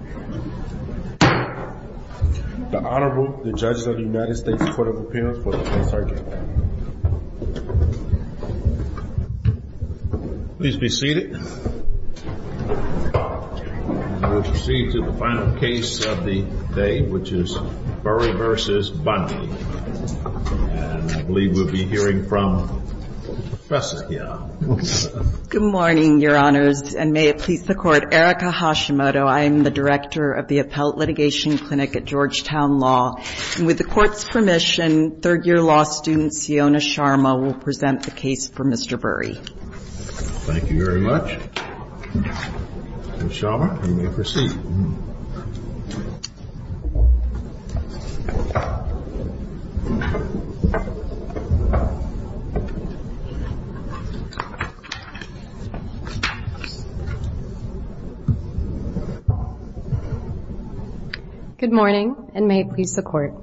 Good morning, Your Honors, and may it please the Court, Erika Hashimoto, I am the Director of the Appellate Litigation Clinic at Georgetown Law, and with the Court's permission, third-year law student Siona Sharma will present the case for Mr. Burey. Thank you very much. Ms. Sharma, you may proceed. Good morning, and may it please the Court.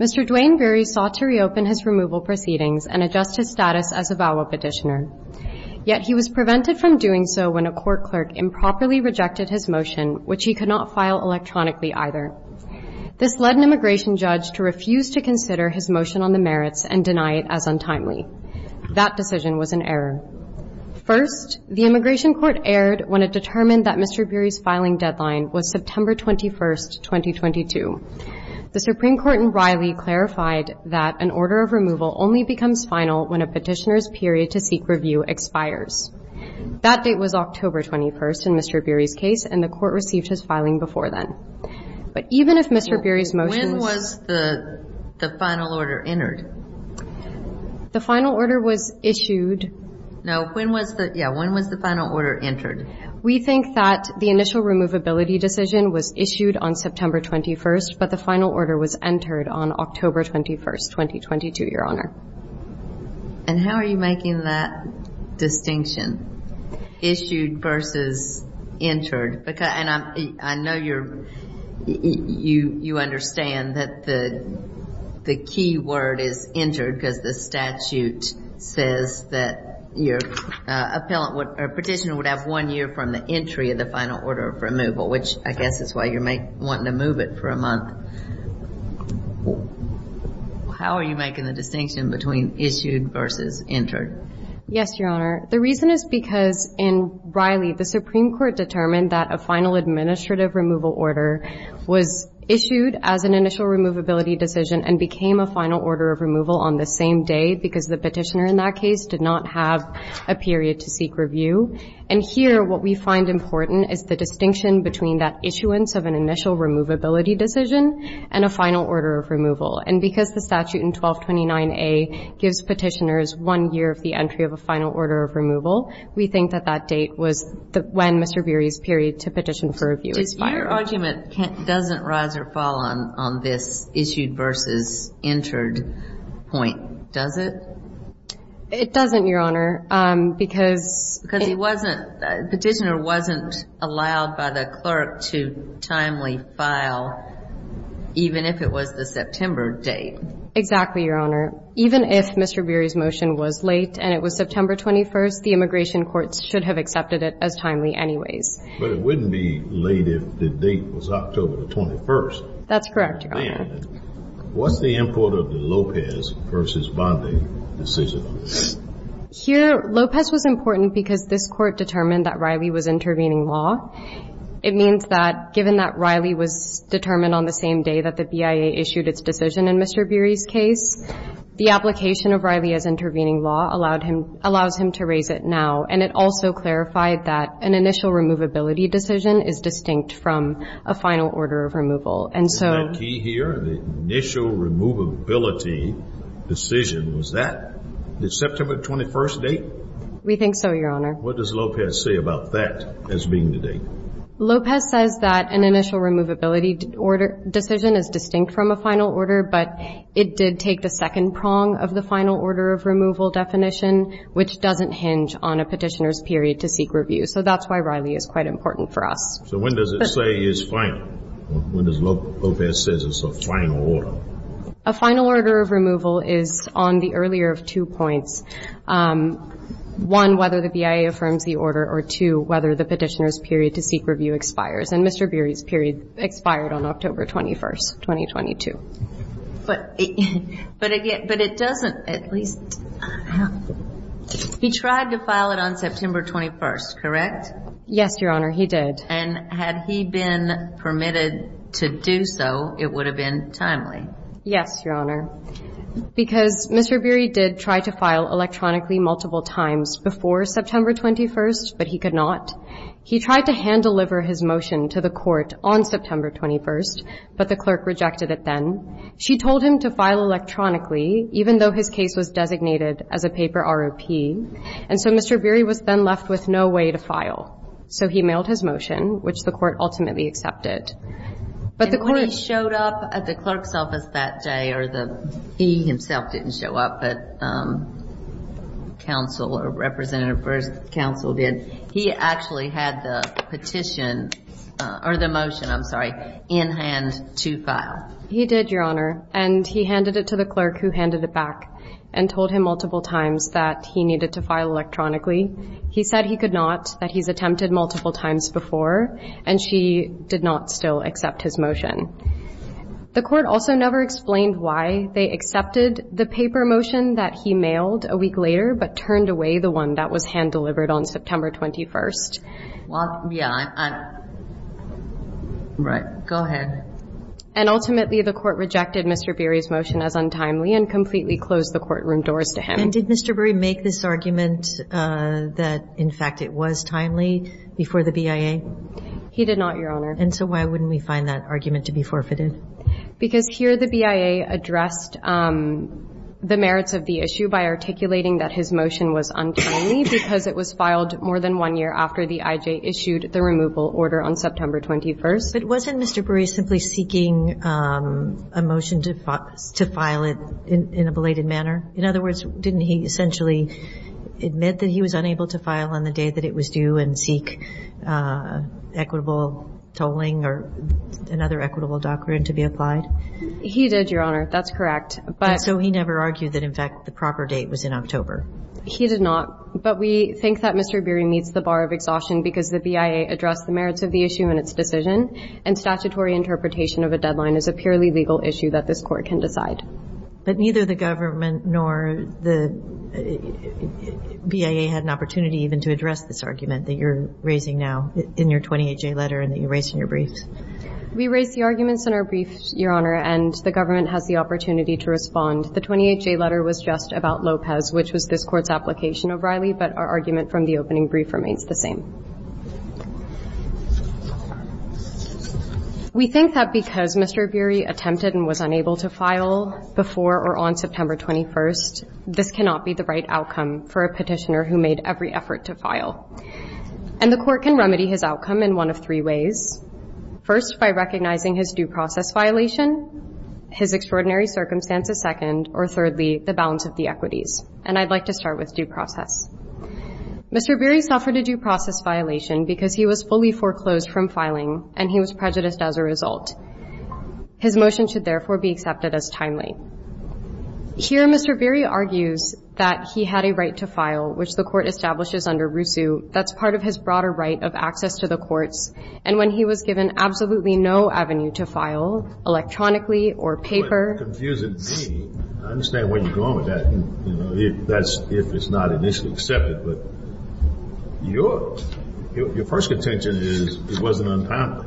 Mr. Dwayne Burey sought to reopen his removal proceedings and adjust his status as a follow-up petitioner. Yet he was prevented from doing so when a court clerk improperly rejected his motion, which he could not file electronically either. This led an immigration judge to refuse to consider his motion on the merits and deny it as untimely. That decision was an error. First, the immigration court erred when it determined that Mr. Burey's filing deadline was September 21, 2022. The Supreme Court in Riley clarified that an order of removal only becomes final when a petitioner's period to seek review expires. That date was October 21 in Mr. Burey's case, and the Court received his filing before then. But even if Mr. Burey's motion was ---- When was the final order entered? The final order was issued ---- No, when was the, yeah, when was the final order entered? We think that the initial removability decision was issued on September 21, but the final order was entered on October 21, 2022, Your Honor. And how are you making that distinction, issued versus entered? I know you're, you understand that the key word is entered because the statute says that your appellant or petitioner would have one year from the entry of the final order of removal, which I guess is why you're wanting to move it for a month. How are you making the distinction between issued versus entered? Yes, Your Honor. The reason is because in Riley, the Supreme Court determined that a final administrative removal order was issued as an initial removability decision and became a final order of removal on the same day because the petitioner in that case did not have a period to seek review. And here what we find important is the distinction between that issuance of an initial removability decision and a final order of removal. And because the statute in 1229A gives petitioners one year of the entry of a final order of removal, we think that that date was when Mr. Beery's period to petition for review expired. Your argument doesn't rise or fall on this issued versus entered point, does it? It doesn't, Your Honor. Because he wasn't, the petitioner wasn't allowed by the clerk to timely file, even if it was the September date. Exactly, Your Honor. Even if Mr. Beery's motion was late and it was September 21st, the immigration courts should have accepted it as timely anyways. But it wouldn't be late if the date was October 21st. That's correct, Your Honor. And what's the import of the Lopez versus Bondi decision? Here, Lopez was important because this court determined that Riley was intervening law. It means that given that Riley was determined on the same day that the BIA issued its decision in Mr. Beery's case, the application of Riley as intervening law allowed him, allows him to raise it now. And it also clarified that an initial removability decision is distinct from a final order of removal. And so. Is that key here? The initial removability decision, was that the September 21st date? We think so, Your Honor. What does Lopez say about that as being the date? Lopez says that an initial removability decision is distinct from a final order, but it did take the second prong of the final order of removal definition, which doesn't hinge on a petitioner's period to seek review. So that's why Riley is quite important for us. So when does it say it's final? When does Lopez say it's a final order? A final order of removal is on the earlier of two points. One, whether the BIA affirms the order, or two, whether the petitioner's period to seek review expires. And Mr. Beery's period expired on October 21st, 2022. But it doesn't at least have. He tried to file it on September 21st, correct? Yes, Your Honor, he did. And had he been permitted to do so, it would have been timely. Yes, Your Honor. Because Mr. Beery did try to file electronically multiple times before September 21st, but he could not. He tried to hand-deliver his motion to the court on September 21st, but the clerk rejected it then. She told him to file electronically, even though his case was designated as a paper ROP. And so Mr. Beery was then left with no way to file. So he mailed his motion, which the court ultimately accepted. And when he showed up at the clerk's office that day, or he himself didn't show up, but counsel or representative versus counsel did, he actually had the petition or the motion, I'm sorry, in hand to file. He did, Your Honor. And he handed it to the clerk who handed it back and told him multiple times that he needed to file electronically. He said he could not, that he's attempted multiple times before, and she did not still accept his motion. The court also never explained why they accepted the paper motion that he mailed a week later, but turned away the one that was hand-delivered on September 21st. Well, yeah, I'm right. Go ahead. And ultimately, the court rejected Mr. Beery's motion as untimely and completely closed the courtroom doors to him. And did Mr. Beery make this argument that, in fact, it was timely before the BIA? He did not, Your Honor. And so why wouldn't we find that argument to be forfeited? Because here the BIA addressed the merits of the issue by articulating that his motion was untimely because it was filed more than one year after the IJ issued the removal order on September 21st. But wasn't Mr. Beery simply seeking a motion to file it in a belated manner? In other words, didn't he essentially admit that he was unable to file on the day that it was due and seek equitable tolling or another equitable doctrine to be applied? He did, Your Honor. That's correct. And so he never argued that, in fact, the proper date was in October? He did not. But we think that Mr. Beery meets the bar of exhaustion because the BIA addressed the merits of the issue in its decision, and statutory interpretation of a deadline is a purely legal issue that this Court can decide. But neither the government nor the BIA had an opportunity even to address this argument that you're raising now in your 28J letter and that you raised in your briefs? We raised the arguments in our briefs, Your Honor, and the government has the opportunity to respond. The 28J letter was just about Lopez, which was this Court's application of Riley, but our argument from the opening brief remains the same. We think that because Mr. Beery attempted and was unable to file before or on September 21st, this cannot be the right outcome for a petitioner who made every effort to file. And the Court can remedy his outcome in one of three ways, first, by recognizing his due process violation, his extraordinary circumstances second, or thirdly, the balance of the equities. And I'd like to start with due process. Mr. Beery suffered a due process violation because he was fully foreclosed from filing and he was prejudiced as a result. His motion should, therefore, be accepted as timely. Here, Mr. Beery argues that he had a right to file, which the Court establishes under RUSU, that's part of his broader right of access to the courts, and when he was given absolutely no avenue to file, electronically or paper. It's a very confusing thing. I understand where you're going with that. That's if it's not initially accepted. But your first contention is it wasn't untimely.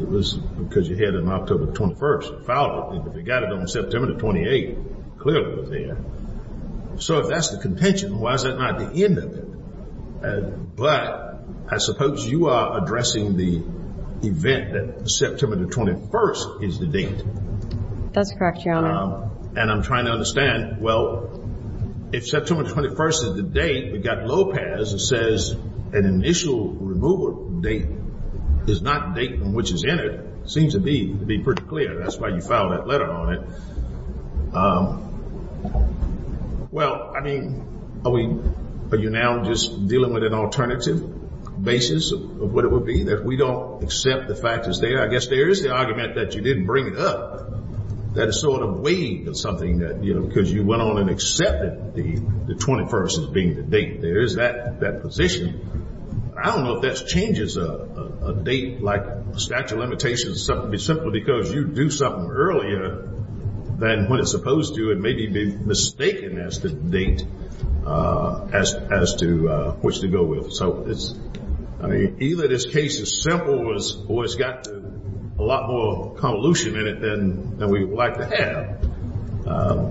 It was because you had it on October 21st. You filed it. If you got it on September 28th, clearly it was there. So if that's the contention, why is that not the end of it? But I suppose you are addressing the event that September 21st is the date. That's correct, Your Honor. And I'm trying to understand, well, if September 21st is the date, we've got Lopez that says an initial removal date is not the date on which it's entered. It seems to be pretty clear. That's why you filed that letter on it. Well, I mean, are you now just dealing with an alternative basis of what it would be, that we don't accept the fact it's there? I mean, I guess there is the argument that you didn't bring it up. That is sort of a wave of something that, you know, because you went on and accepted the 21st as being the date. There is that position. I don't know if that changes a date, like statute of limitations, simply because you do something earlier than when it's supposed to and maybe be mistaken as the date as to which to go with. So either this case is simple or it's got a lot more convolution in it than we would like to have.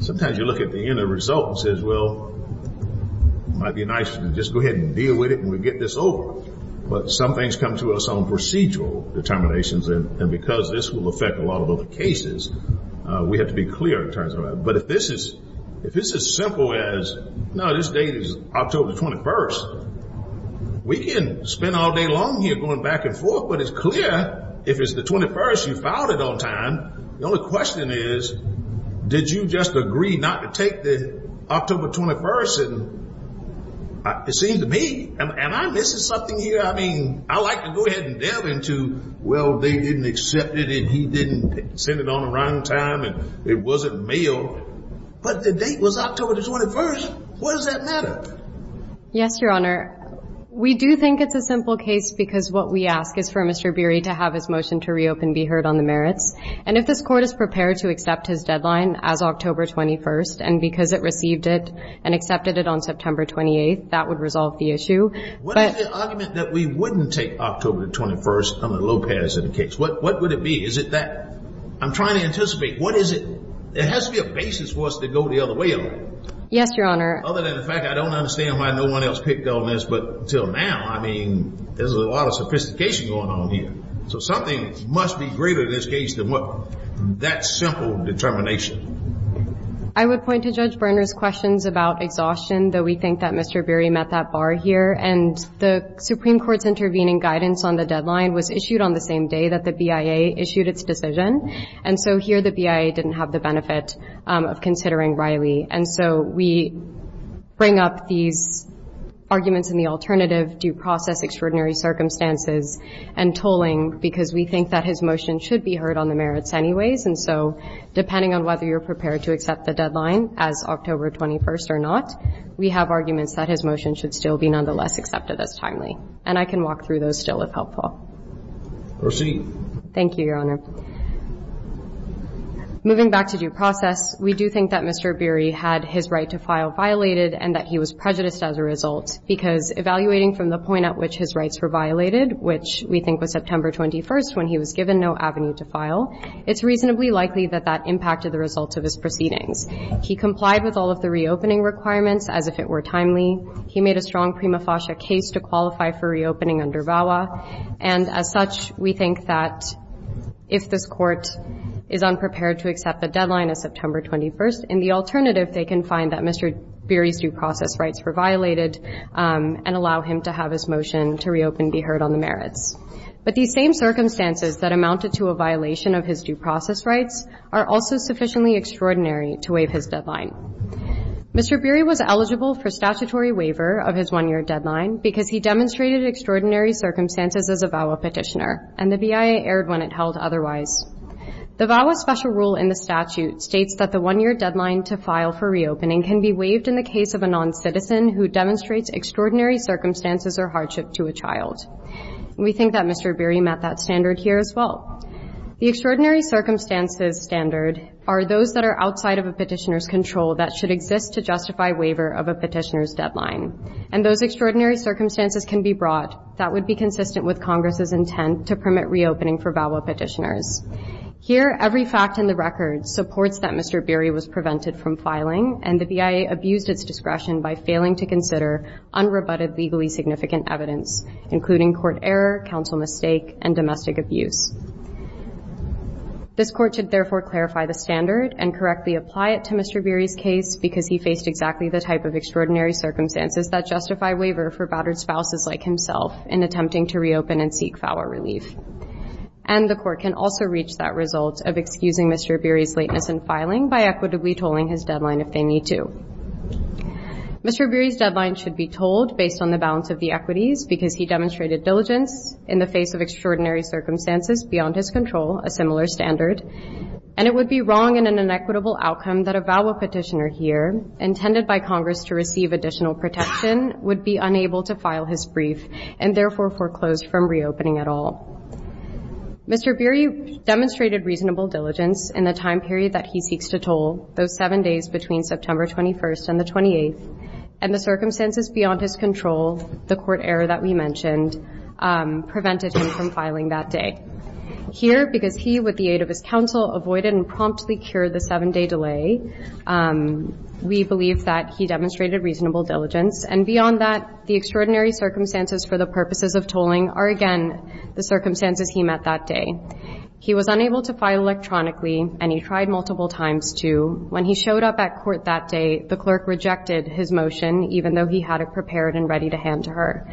Sometimes you look at the end of the result and say, well, it might be nice to just go ahead and deal with it when we get this over. But some things come to us on procedural determinations, and because this will affect a lot of other cases, we have to be clear in terms of that. But if this is simple as, no, this date is October 21st, we can spend all day long here going back and forth. But it's clear if it's the 21st, you filed it on time. The only question is, did you just agree not to take the October 21st? And it seems to me, and I'm missing something here. I mean, I like to go ahead and delve into, well, they didn't accept it and he didn't send it on the right time and it wasn't mailed, but the date was October 21st. Why does that matter? Yes, Your Honor. We do think it's a simple case because what we ask is for Mr. Beery to have his motion to reopen be heard on the merits. And if this Court is prepared to accept his deadline as October 21st and because it received it and accepted it on September 28th, that would resolve the issue. What is the argument that we wouldn't take October 21st under Lopez in the case? What would it be? Is it that? I'm trying to anticipate. What is it? There has to be a basis for us to go the other way on. Yes, Your Honor. Other than the fact I don't understand why no one else picked on this. But until now, I mean, there's a lot of sophistication going on here. So something must be greater in this case than what that simple determination. I would point to Judge Berner's questions about exhaustion, though we think that Mr. Beery met that bar here. And the Supreme Court's intervening guidance on the deadline was issued on the same day that the BIA issued its decision. And so here the BIA didn't have the benefit of considering Riley. And so we bring up these arguments in the alternative due process extraordinary circumstances and tolling because we think that his motion should be heard on the merits anyways. And so depending on whether you're prepared to accept the deadline as October 21st or not, we have arguments that his motion should still be nonetheless accepted as timely. And I can walk through those still if helpful. Proceed. Thank you, Your Honor. Moving back to due process, we do think that Mr. Beery had his right to file violated and that he was prejudiced as a result because evaluating from the point at which his rights were violated, which we think was September 21st when he was given no avenue to file, it's reasonably likely that that impacted the results of his proceedings. He complied with all of the reopening requirements as if it were timely. He made a strong prima facie case to qualify for reopening under VAWA. And as such, we think that if this Court is unprepared to accept the deadline as September 21st, in the alternative they can find that Mr. Beery's due process rights were violated and allow him to have his motion to reopen be heard on the merits. But these same circumstances that amounted to a violation of his due process rights are also sufficiently extraordinary to waive his deadline. Mr. Beery was eligible for statutory waiver of his one-year deadline because he demonstrated extraordinary circumstances as a VAWA petitioner, and the BIA erred when it held otherwise. The VAWA special rule in the statute states that the one-year deadline to file for reopening can be waived in the case of a noncitizen who demonstrates extraordinary circumstances or hardship to a child. We think that Mr. Beery met that standard here as well. The extraordinary circumstances standard are those that are outside of a petitioner's control that should exist to justify waiver of a petitioner's deadline. And those extraordinary circumstances can be brought that would be consistent with Congress's intent to permit reopening for VAWA petitioners. Here, every fact in the record supports that Mr. Beery was prevented from filing and the BIA abused its discretion by failing to consider unrebutted legally significant evidence, including court error, counsel mistake, and domestic abuse. This Court should therefore clarify the standard and correctly apply it to Mr. Beery's case because he faced exactly the type of extraordinary circumstances that justify waiver for battered spouses like himself in attempting to reopen and seek VAWA relief. And the Court can also reach that result of excusing Mr. Beery's lateness in filing by equitably tolling his deadline if they need to. Mr. Beery's deadline should be tolled based on the balance of the equities because he demonstrated diligence in the face of extraordinary circumstances beyond his control, a similar standard. And it would be wrong in an inequitable outcome that a VAWA petitioner here, intended by Congress to receive additional protection, would be unable to file his brief and therefore foreclose from reopening at all. Mr. Beery demonstrated reasonable diligence in the time period that he seeks to toll, those seven days between September 21st and the 28th, and the circumstances beyond his control, the court error that we mentioned, prevented him from filing that day. Here, because he, with the aid of his counsel, avoided and promptly cured the seven-day delay, we believe that he demonstrated reasonable diligence. And beyond that, the extraordinary circumstances for the purposes of tolling are, again, the circumstances he met that day. He was unable to file electronically, and he tried multiple times to. When he showed up at court that day, the clerk rejected his motion, even though he had it prepared and ready to hand to her.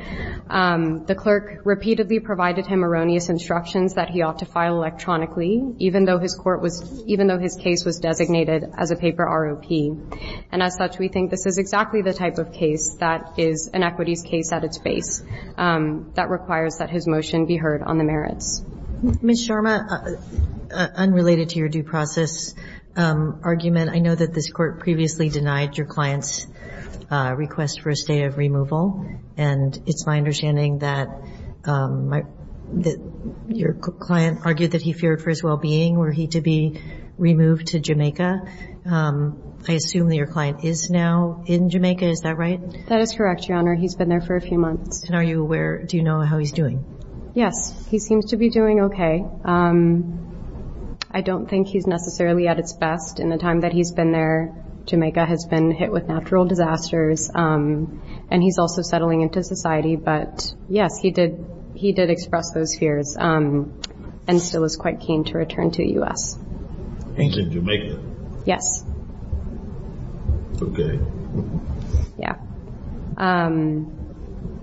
The clerk repeatedly provided him erroneous instructions that he ought to file electronically, even though his court was – even though his case was designated as a paper ROP. And as such, we think this is exactly the type of case that is an equities case at its face that requires that his motion be heard on the merits. Ms. Sharma, unrelated to your due process argument, I know that this Court previously denied your client's request for a state of removal. And it's my understanding that your client argued that he feared for his well-being, were he to be removed to Jamaica. I assume that your client is now in Jamaica. Is that right? That is correct, Your Honor. He's been there for a few months. And are you aware – do you know how he's doing? Yes. He seems to be doing okay. I don't think he's necessarily at his best in the time that he's been there. Jamaica has been hit with natural disasters, and he's also settling into society. But, yes, he did express those fears and still is quite keen to return to the U.S. He's in Jamaica? Yes. Okay. Yeah.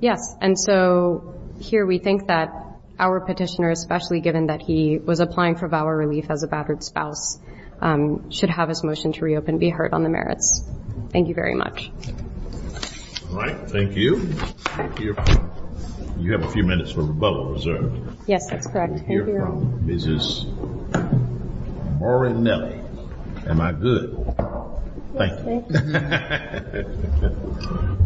Yes. And so here we think that our petitioner, especially given that he was applying for valor relief as a battered spouse, should have his motion to reopen be heard on the merits. Thank you very much. All right. Thank you. Thank you. You have a few minutes for rebuttal reserved. Yes, that's correct. Thank you, Your Honor. Mrs. Morinelli. Am I good? Thank you. Thank you.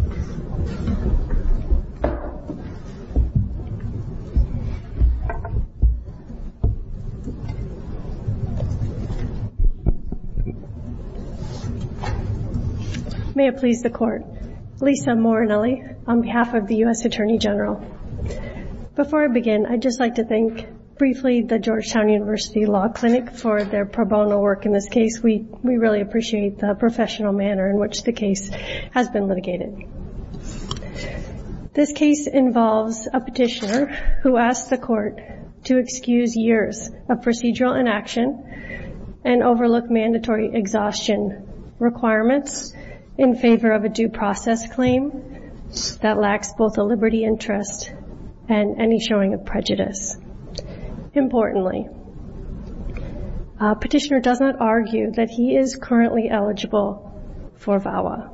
May it please the Court. Lisa Morinelli on behalf of the U.S. Attorney General. Before I begin, I'd just like to thank briefly the Georgetown University Law Clinic for their pro bono work in this case. We really appreciate the professional manner in which the case has been litigated. This case involves a petitioner who asks the Court to excuse years of procedural inaction and overlook mandatory exhaustion requirements in favor of a due process claim that lacks both a liberty interest and any showing of prejudice. Importantly, a petitioner does not argue that he is currently eligible for VAWA.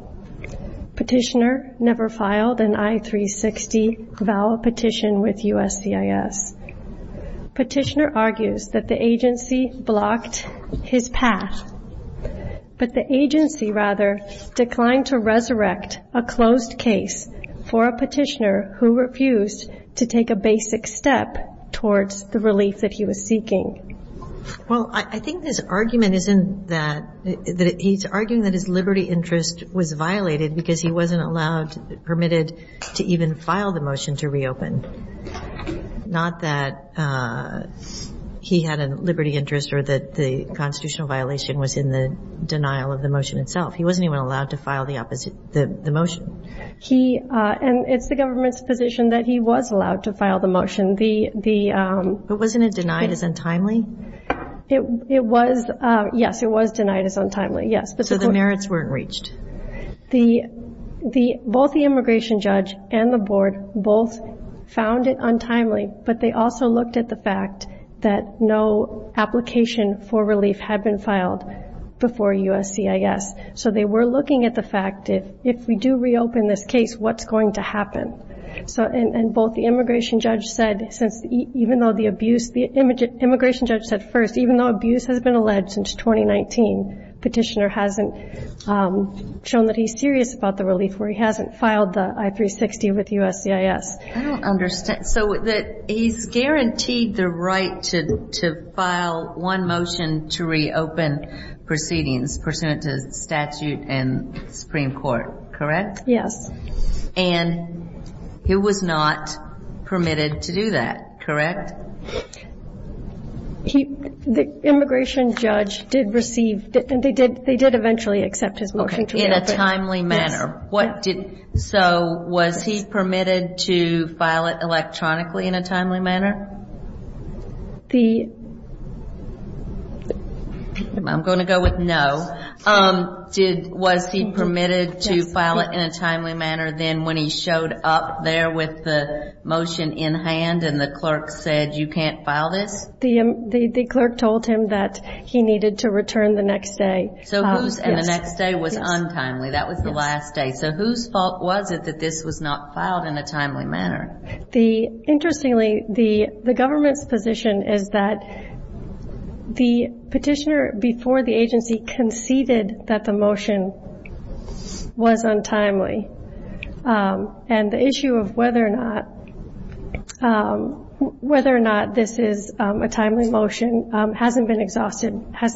Petitioner never filed an I-360 VAWA petition with USCIS. Petitioner argues that the agency blocked his path, but the agency rather declined to resurrect a closed case for a petitioner who refused to take a basic step towards the relief that he was seeking. Well, I think his argument isn't that he's arguing that his liberty interest was violated because he wasn't allowed, permitted to even file the motion to reopen, not that he had a liberty interest or that the constitutional violation was in the denial of the motion itself. He wasn't even allowed to file the motion. And it's the government's position that he was allowed to file the motion. But wasn't it denied as untimely? Yes, it was denied as untimely, yes. So the merits weren't reached. Both the immigration judge and the board both found it untimely, but they also looked at the fact that no application for relief had been filed before USCIS. So they were looking at the fact, if we do reopen this case, what's going to happen? And both the immigration judge said, even though the abuse, the immigration judge said first, even though abuse has been alleged since 2019, petitioner hasn't shown that he's serious about the relief where he hasn't filed the I-360 with USCIS. I don't understand. So he's guaranteed the right to file one motion to reopen proceedings pursuant to statute in the Supreme Court, correct? Yes. And he was not permitted to do that, correct? The immigration judge did receive, they did eventually accept his motion to reopen. In a timely manner. Yes. So was he permitted to file it electronically in a timely manner? I'm going to go with no. Was he permitted to file it in a timely manner then when he showed up there with the motion in hand and the clerk said, you can't file this? The clerk told him that he needed to return the next day. And the next day was untimely. That was the last day. So whose fault was it that this was not filed in a timely manner? Interestingly, the government's position is that the petitioner before the agency conceded that the motion was untimely. And the issue of whether or not this is a timely motion has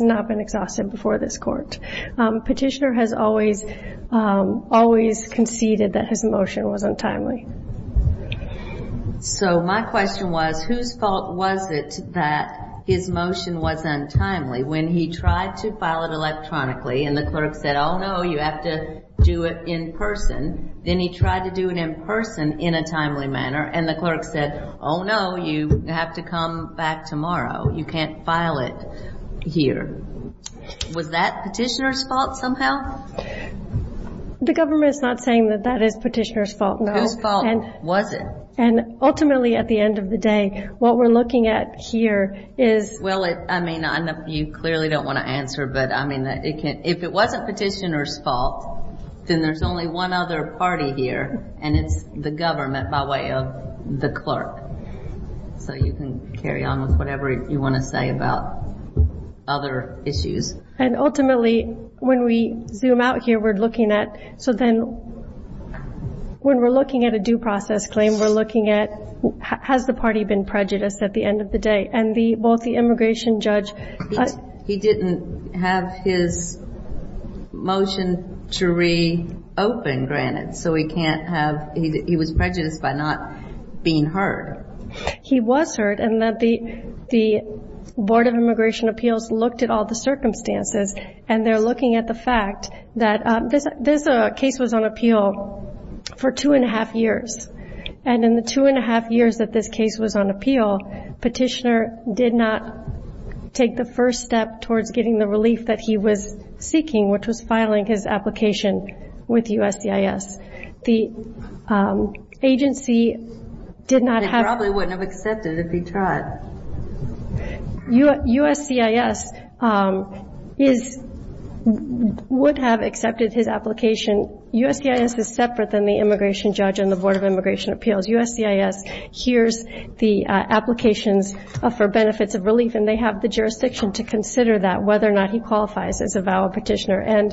not been exhausted before this court. Petitioner has always conceded that his motion was untimely. So my question was, whose fault was it that his motion was untimely when he tried to file it electronically and the clerk said, oh, no, you have to do it in person. Then he tried to do it in person in a timely manner, and the clerk said, oh, no, you have to come back tomorrow. You can't file it here. Was that petitioner's fault somehow? The government is not saying that that is petitioner's fault, no. Whose fault was it? And ultimately, at the end of the day, what we're looking at here is – Well, I mean, you clearly don't want to answer, but I mean, if it wasn't petitioner's fault, then there's only one other party here, and it's the government by way of the clerk. So you can carry on with whatever you want to say about other issues. And ultimately, when we zoom out here, we're looking at – so then when we're looking at a due process claim, we're looking at has the party been prejudiced at the end of the day. And both the immigration judge – He didn't have his motion to re-open granted, so he can't have – he was prejudiced by not being heard. He was heard, and the Board of Immigration Appeals looked at all the circumstances, and they're looking at the fact that this case was on appeal for two and a half years. And in the two and a half years that this case was on appeal, petitioner did not take the first step towards getting the relief that he was seeking, which was filing his application with USCIS. The agency did not have – They probably wouldn't have accepted if he tried. USCIS would have accepted his application. USCIS is separate than the immigration judge and the Board of Immigration Appeals. USCIS hears the applications for benefits of relief, and they have the jurisdiction to consider that, whether or not he qualifies as a valid petitioner. And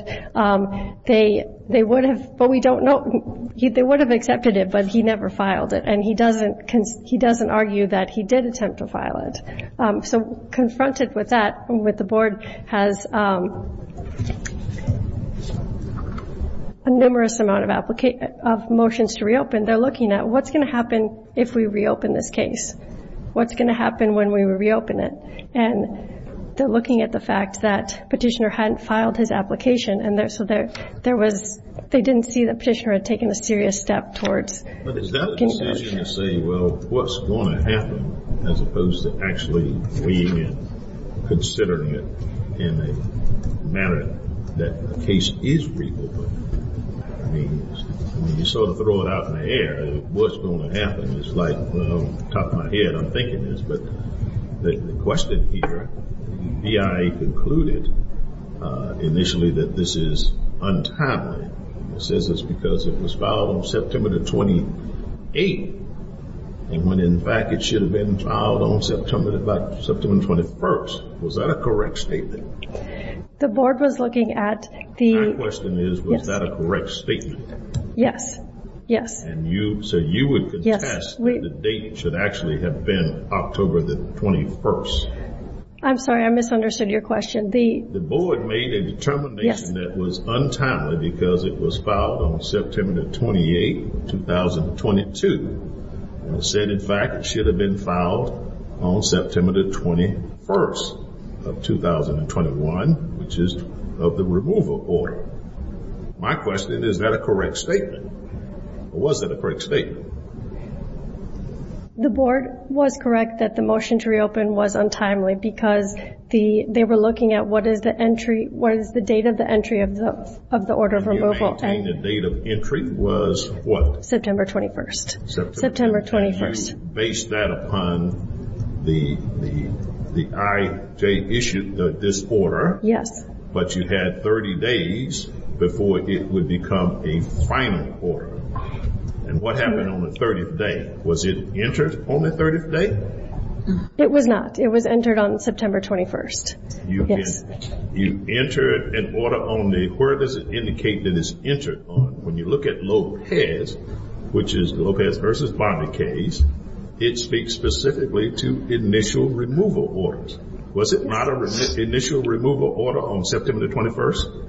they would have – but we don't know – they would have accepted it, but he never filed it, and he doesn't argue that he did attempt to file it. So confronted with that, with the board has a numerous amount of motions to reopen. They're looking at what's going to happen if we reopen this case, what's going to happen when we reopen it. And they're looking at the fact that petitioner hadn't filed his application, and so there was – they didn't see that petitioner had taken a serious step towards – But is that a decision to say, well, what's going to happen, as opposed to actually weighing in, considering it in a manner that the case is reopened? I mean, you sort of throw it out in the air. What's going to happen is like, well, off the top of my head, I'm thinking this, but the question here, the BIA concluded initially that this is untimely. It says it's because it was filed on September the 28th, and when in fact it should have been filed on September the 21st. Was that a correct statement? The board was looking at the – My question is, was that a correct statement? Yes, yes. And you – so you would contest that the date should actually have been October the 21st? I'm sorry, I misunderstood your question. The board made a determination that was untimely because it was filed on September the 28th, 2022, and it said in fact it should have been filed on September the 21st of 2021, which is of the remover order. My question is, is that a correct statement, or was that a correct statement? The board was correct that the motion to reopen was untimely because they were looking at what is the entry – what is the date of the entry of the order of removal. You maintain the date of entry was what? September 21st. September 21st. You base that upon the – the IJ issued this order. Yes. But you had 30 days before it would become a final order. And what happened on the 30th day? Was it entered on the 30th day? It was not. It was entered on September 21st. You entered an order on the – where does it indicate that it's entered on? When you look at Lopez, which is the Lopez v. Bondi case, it speaks specifically to initial removal orders. Was it not an initial removal order on September 21st?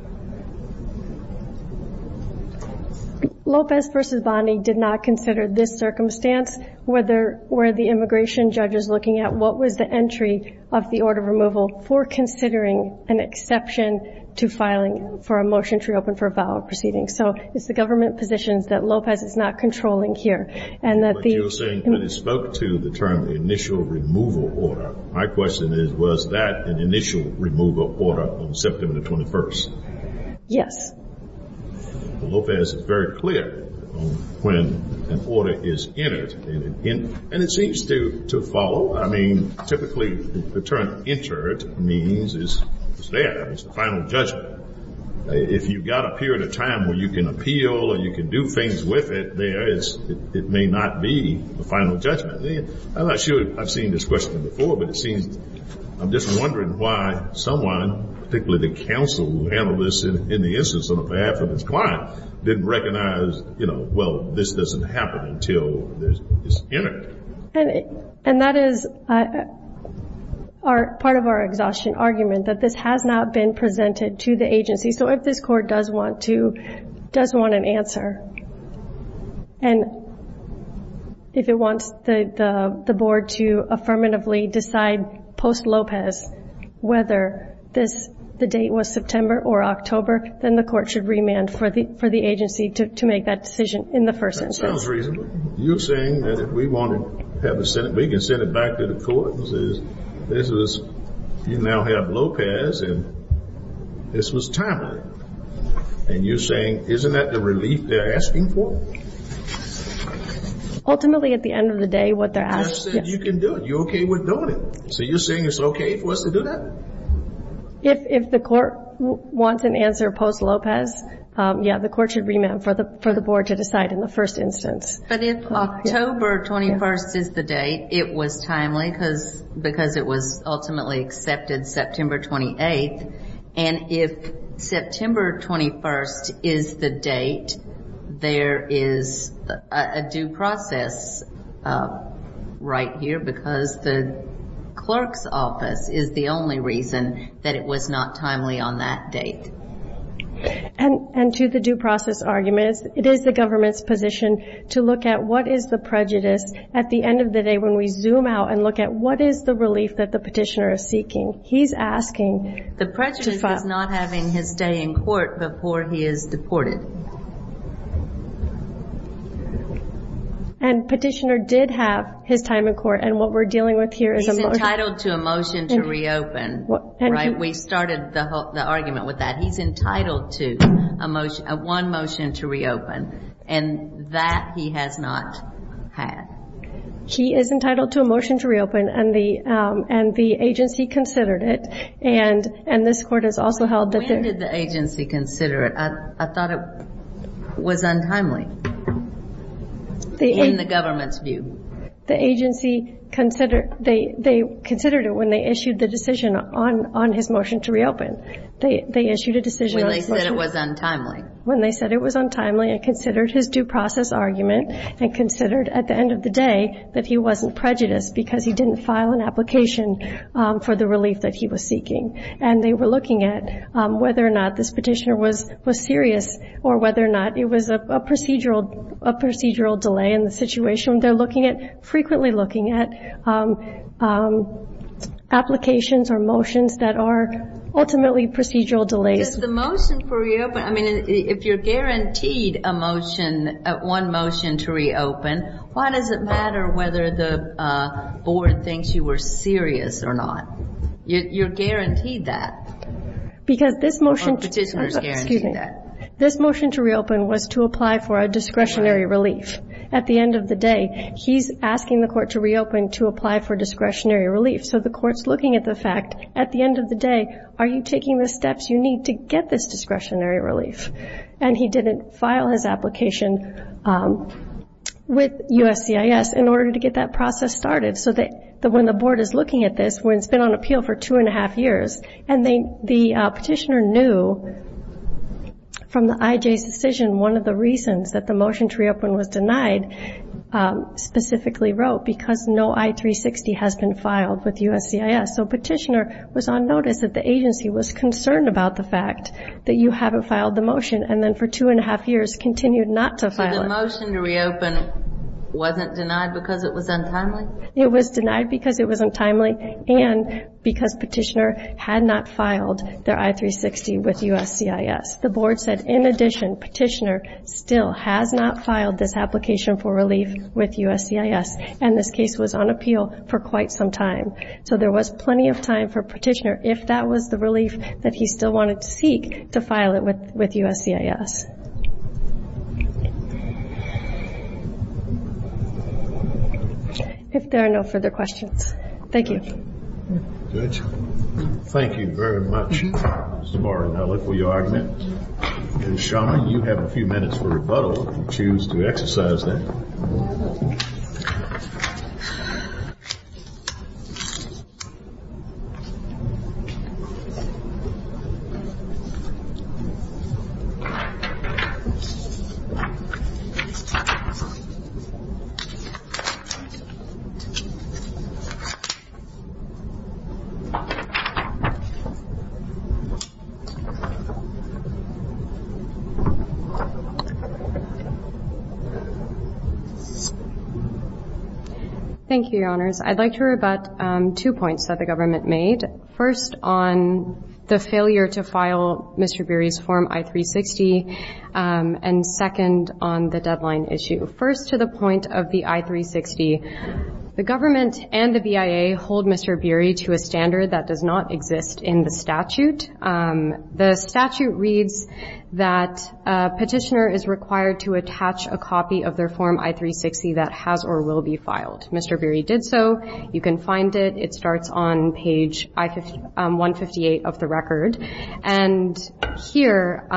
Lopez v. Bondi did not consider this circumstance. Were there – were the immigration judges looking at what was the entry of the order of removal for considering an exception to filing for a motion to reopen for a valid proceeding? So it's the government positions that Lopez is not controlling here, and that the – But you're saying that it spoke to the term initial removal order. My question is, was that an initial removal order on September 21st? Yes. Lopez is very clear on when an order is entered. And it seems to follow. I mean, typically, the term entered means it's there. It's the final judgment. If you've got a period of time where you can appeal or you can do things with it, there is – it may not be the final judgment. I'm not sure I've seen this question before, but it seems – I'm just wondering why someone, particularly the counsel analyst in the instance on behalf of his client, didn't recognize, you know, well, this doesn't happen until it's entered. And that is part of our exhaustion argument, that this has not been presented to the agency. So if this court does want to – does want an answer, and if it wants the board to affirmatively decide post-Lopez whether the date was September or October, then the court should remand for the agency to make that decision in the first instance. That sounds reasonable. You're saying that if we want to have a – we can send it back to the court and say, this is – you now have Lopez, and this was timely. And you're saying, isn't that the relief they're asking for? Ultimately, at the end of the day, what they're asking – I said you can do it. You're okay with doing it. So you're saying it's okay for us to do that? If the court wants an answer post-Lopez, yeah, the court should remand for the board to decide in the first instance. But if October 21st is the date, it was timely because it was ultimately accepted September 28th. And if September 21st is the date, there is a due process right here because the clerk's office is the only reason that it was not timely on that date. And to the due process argument, it is the government's position to look at what is the prejudice. At the end of the day, when we zoom out and look at what is the relief that the petitioner is seeking, he's asking – The prejudice is not having his day in court before he is deported. And petitioner did have his time in court, and what we're dealing with here is a motion. He's entitled to a motion to reopen, right? We started the argument with that. He's entitled to one motion to reopen, and that he has not had. He is entitled to a motion to reopen, and the agency considered it. And this Court has also held that the – When did the agency consider it? I thought it was untimely in the government's view. The agency considered it when they issued the decision on his motion to reopen. They issued a decision – When they said it was untimely. When they said it was untimely and considered his due process argument and considered at the end of the day that he wasn't prejudiced because he didn't file an application for the relief that he was seeking. And they were looking at whether or not this petitioner was serious or whether or not it was a procedural delay in the situation. They're looking at – frequently looking at applications or motions that are ultimately procedural delays. I mean, if you're guaranteed a motion, one motion to reopen, why does it matter whether the board thinks you were serious or not? You're guaranteed that. Because this motion – Or the petitioner is guaranteed that. Excuse me. This motion to reopen was to apply for a discretionary relief. At the end of the day, he's asking the Court to reopen to apply for discretionary relief. So the Court's looking at the fact, at the end of the day, are you taking the steps you need to get this discretionary relief? And he didn't file his application with USCIS in order to get that process started. So when the board is looking at this, when it's been on appeal for two and a half years, and the petitioner knew from the IJ's decision, one of the reasons that the motion to reopen was denied, specifically wrote, because no I-360 has been filed with USCIS. So petitioner was on notice that the agency was concerned about the fact that you haven't filed the motion, and then for two and a half years continued not to file it. So the motion to reopen wasn't denied because it was untimely? It was denied because it was untimely and because petitioner had not filed their I-360 with USCIS. The board said, in addition, petitioner still has not filed this application for relief with USCIS, and this case was on appeal for quite some time. So there was plenty of time for petitioner, if that was the relief that he still wanted to seek, to file it with USCIS. If there are no further questions. Thank you. Thank you very much, Mr. Martin. I look forward to your argument. And, Shama, you have a few minutes for rebuttal if you choose to exercise that. Thank you. Thank you, Your Honors. I'd like to rebut two points that the government made. First, on the failure to file Mr. Beery's form I-360, and second, on the deadline issue. First, to the point of the I-360, the government and the BIA hold Mr. Beery to a standard that does not exist in the statute. The statute reads that petitioner is required to attach a copy of their form I-360 that has or will be filed. Mr. Beery did so. You can find it. It starts on page 158 of the record. And here,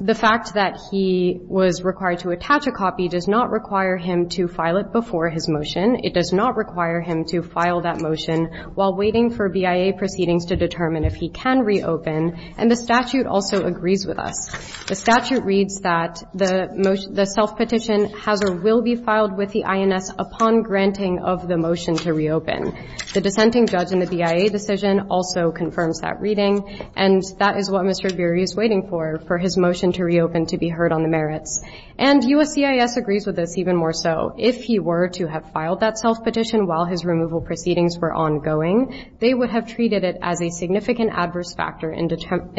the fact that he was required to attach a copy does not require him to file it before his motion. It does not require him to file that motion while waiting for BIA proceedings to determine if he can reopen. And the statute also agrees with us. The statute reads that the self-petition has or will be filed with the INS upon granting of the motion to reopen. The dissenting judge in the BIA decision also confirms that reading. And that is what Mr. Beery is waiting for, for his motion to reopen to be heard on the merits. And USCIS agrees with us even more so. If he were to have filed that self-petition while his removal proceedings were ongoing, they would have treated it as a significant adverse factor in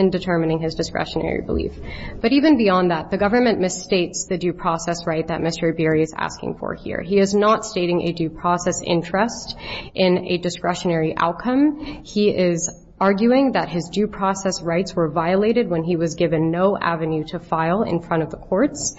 determining his discretionary belief. But even beyond that, the government misstates the due process right that Mr. Beery is asking for here. He is not stating a due process interest in a discretionary outcome. He is arguing that his due process rights were violated when he was given no avenue to file in front of the courts.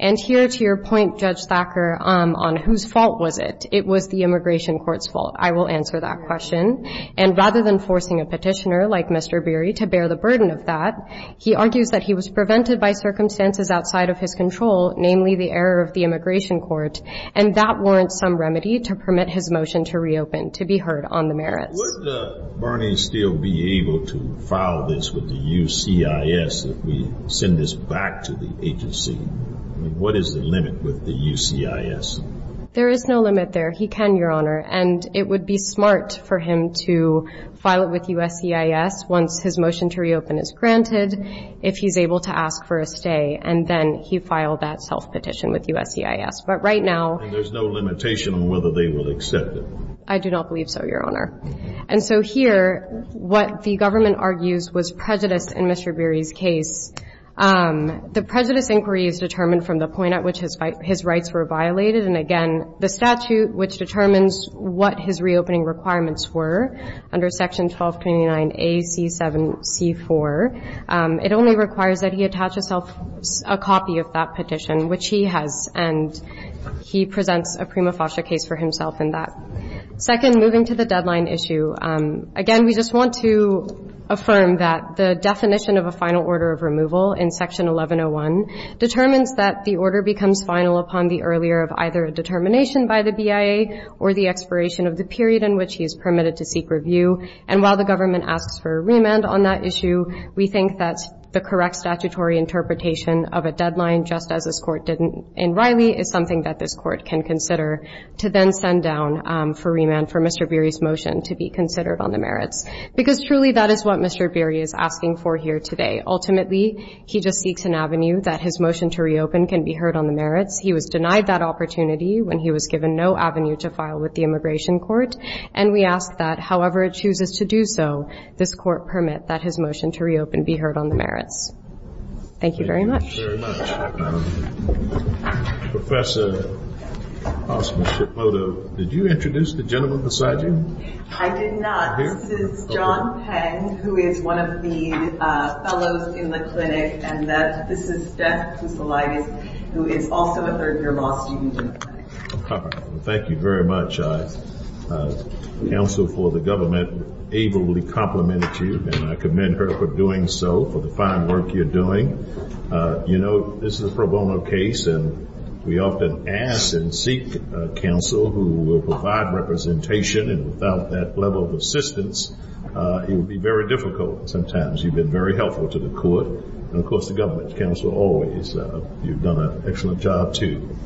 And here, to your point, Judge Thacker, on whose fault was it, it was the immigration court's fault. I will answer that question. And rather than forcing a petitioner like Mr. Beery to bear the burden of that, he argues that he was prevented by circumstances outside of his control, namely the error of the immigration court. And that warrants some remedy to permit his motion to reopen to be heard on the merits. Would Bernie still be able to file this with the USCIS if we send this back to the agency? I mean, what is the limit with the USCIS? There is no limit there. He can, Your Honor. And it would be smart for him to file it with USCIS once his motion to reopen is granted, if he's able to ask for a stay, and then he filed that self-petition with USCIS. But right now — And there's no limitation on whether they will accept it? I do not believe so, Your Honor. And so here, what the government argues was prejudice in Mr. Beery's case. The prejudice inquiry is determined from the point at which his rights were violated. And again, the statute, which determines what his reopening requirements were under Section 1229A.C.7.C.4, it only requires that he attach himself a copy of that petition, which he has, and he presents a prima facie case for himself in that. Second, moving to the deadline issue, again, we just want to affirm that the definition of a final order of removal in Section 1101 determines that the order becomes final upon the earlier of either a determination by the BIA or the expiration of the period in which he is permitted to seek review. And while the government asks for remand on that issue, we think that the correct statutory interpretation of a deadline, just as this Court did in Riley, is something that this Court can consider to then send down for remand for Mr. Beery's motion to be considered on the merits. Because truly, that is what Mr. Beery is asking for here today. Ultimately, he just seeks an avenue that his motion to reopen can be heard on the merits. He was denied that opportunity when he was given no avenue to file with the Immigration Court, and we ask that, however it chooses to do so, this Court permit that his motion to reopen be heard on the merits. Thank you very much. Thank you very much. Professor Hosman-Shipodo, did you introduce the gentleman beside you? I did not. This is John Peng, who is one of the fellows in the clinic, and this is Jeff Kousoulidis, who is also a third-year law student in the clinic. Thank you very much. Counsel for the government ably complimented you, and I commend her for doing so, for the fine work you're doing. You know, this is a pro bono case, and we often ask and seek counsel who will provide representation, and without that level of assistance, it would be very difficult sometimes. You've been very helpful to the Court, and, of course, the government counsel always. You've done an excellent job, too.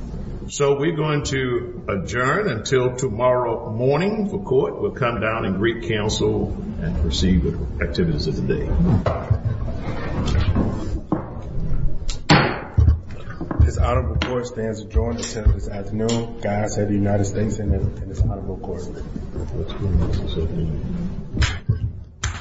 So we're going to adjourn until tomorrow morning for court. We'll come down and greet counsel and proceed with activities of the day. This Honorable Court stands adjourned until this afternoon. God save the United States and this Honorable Court.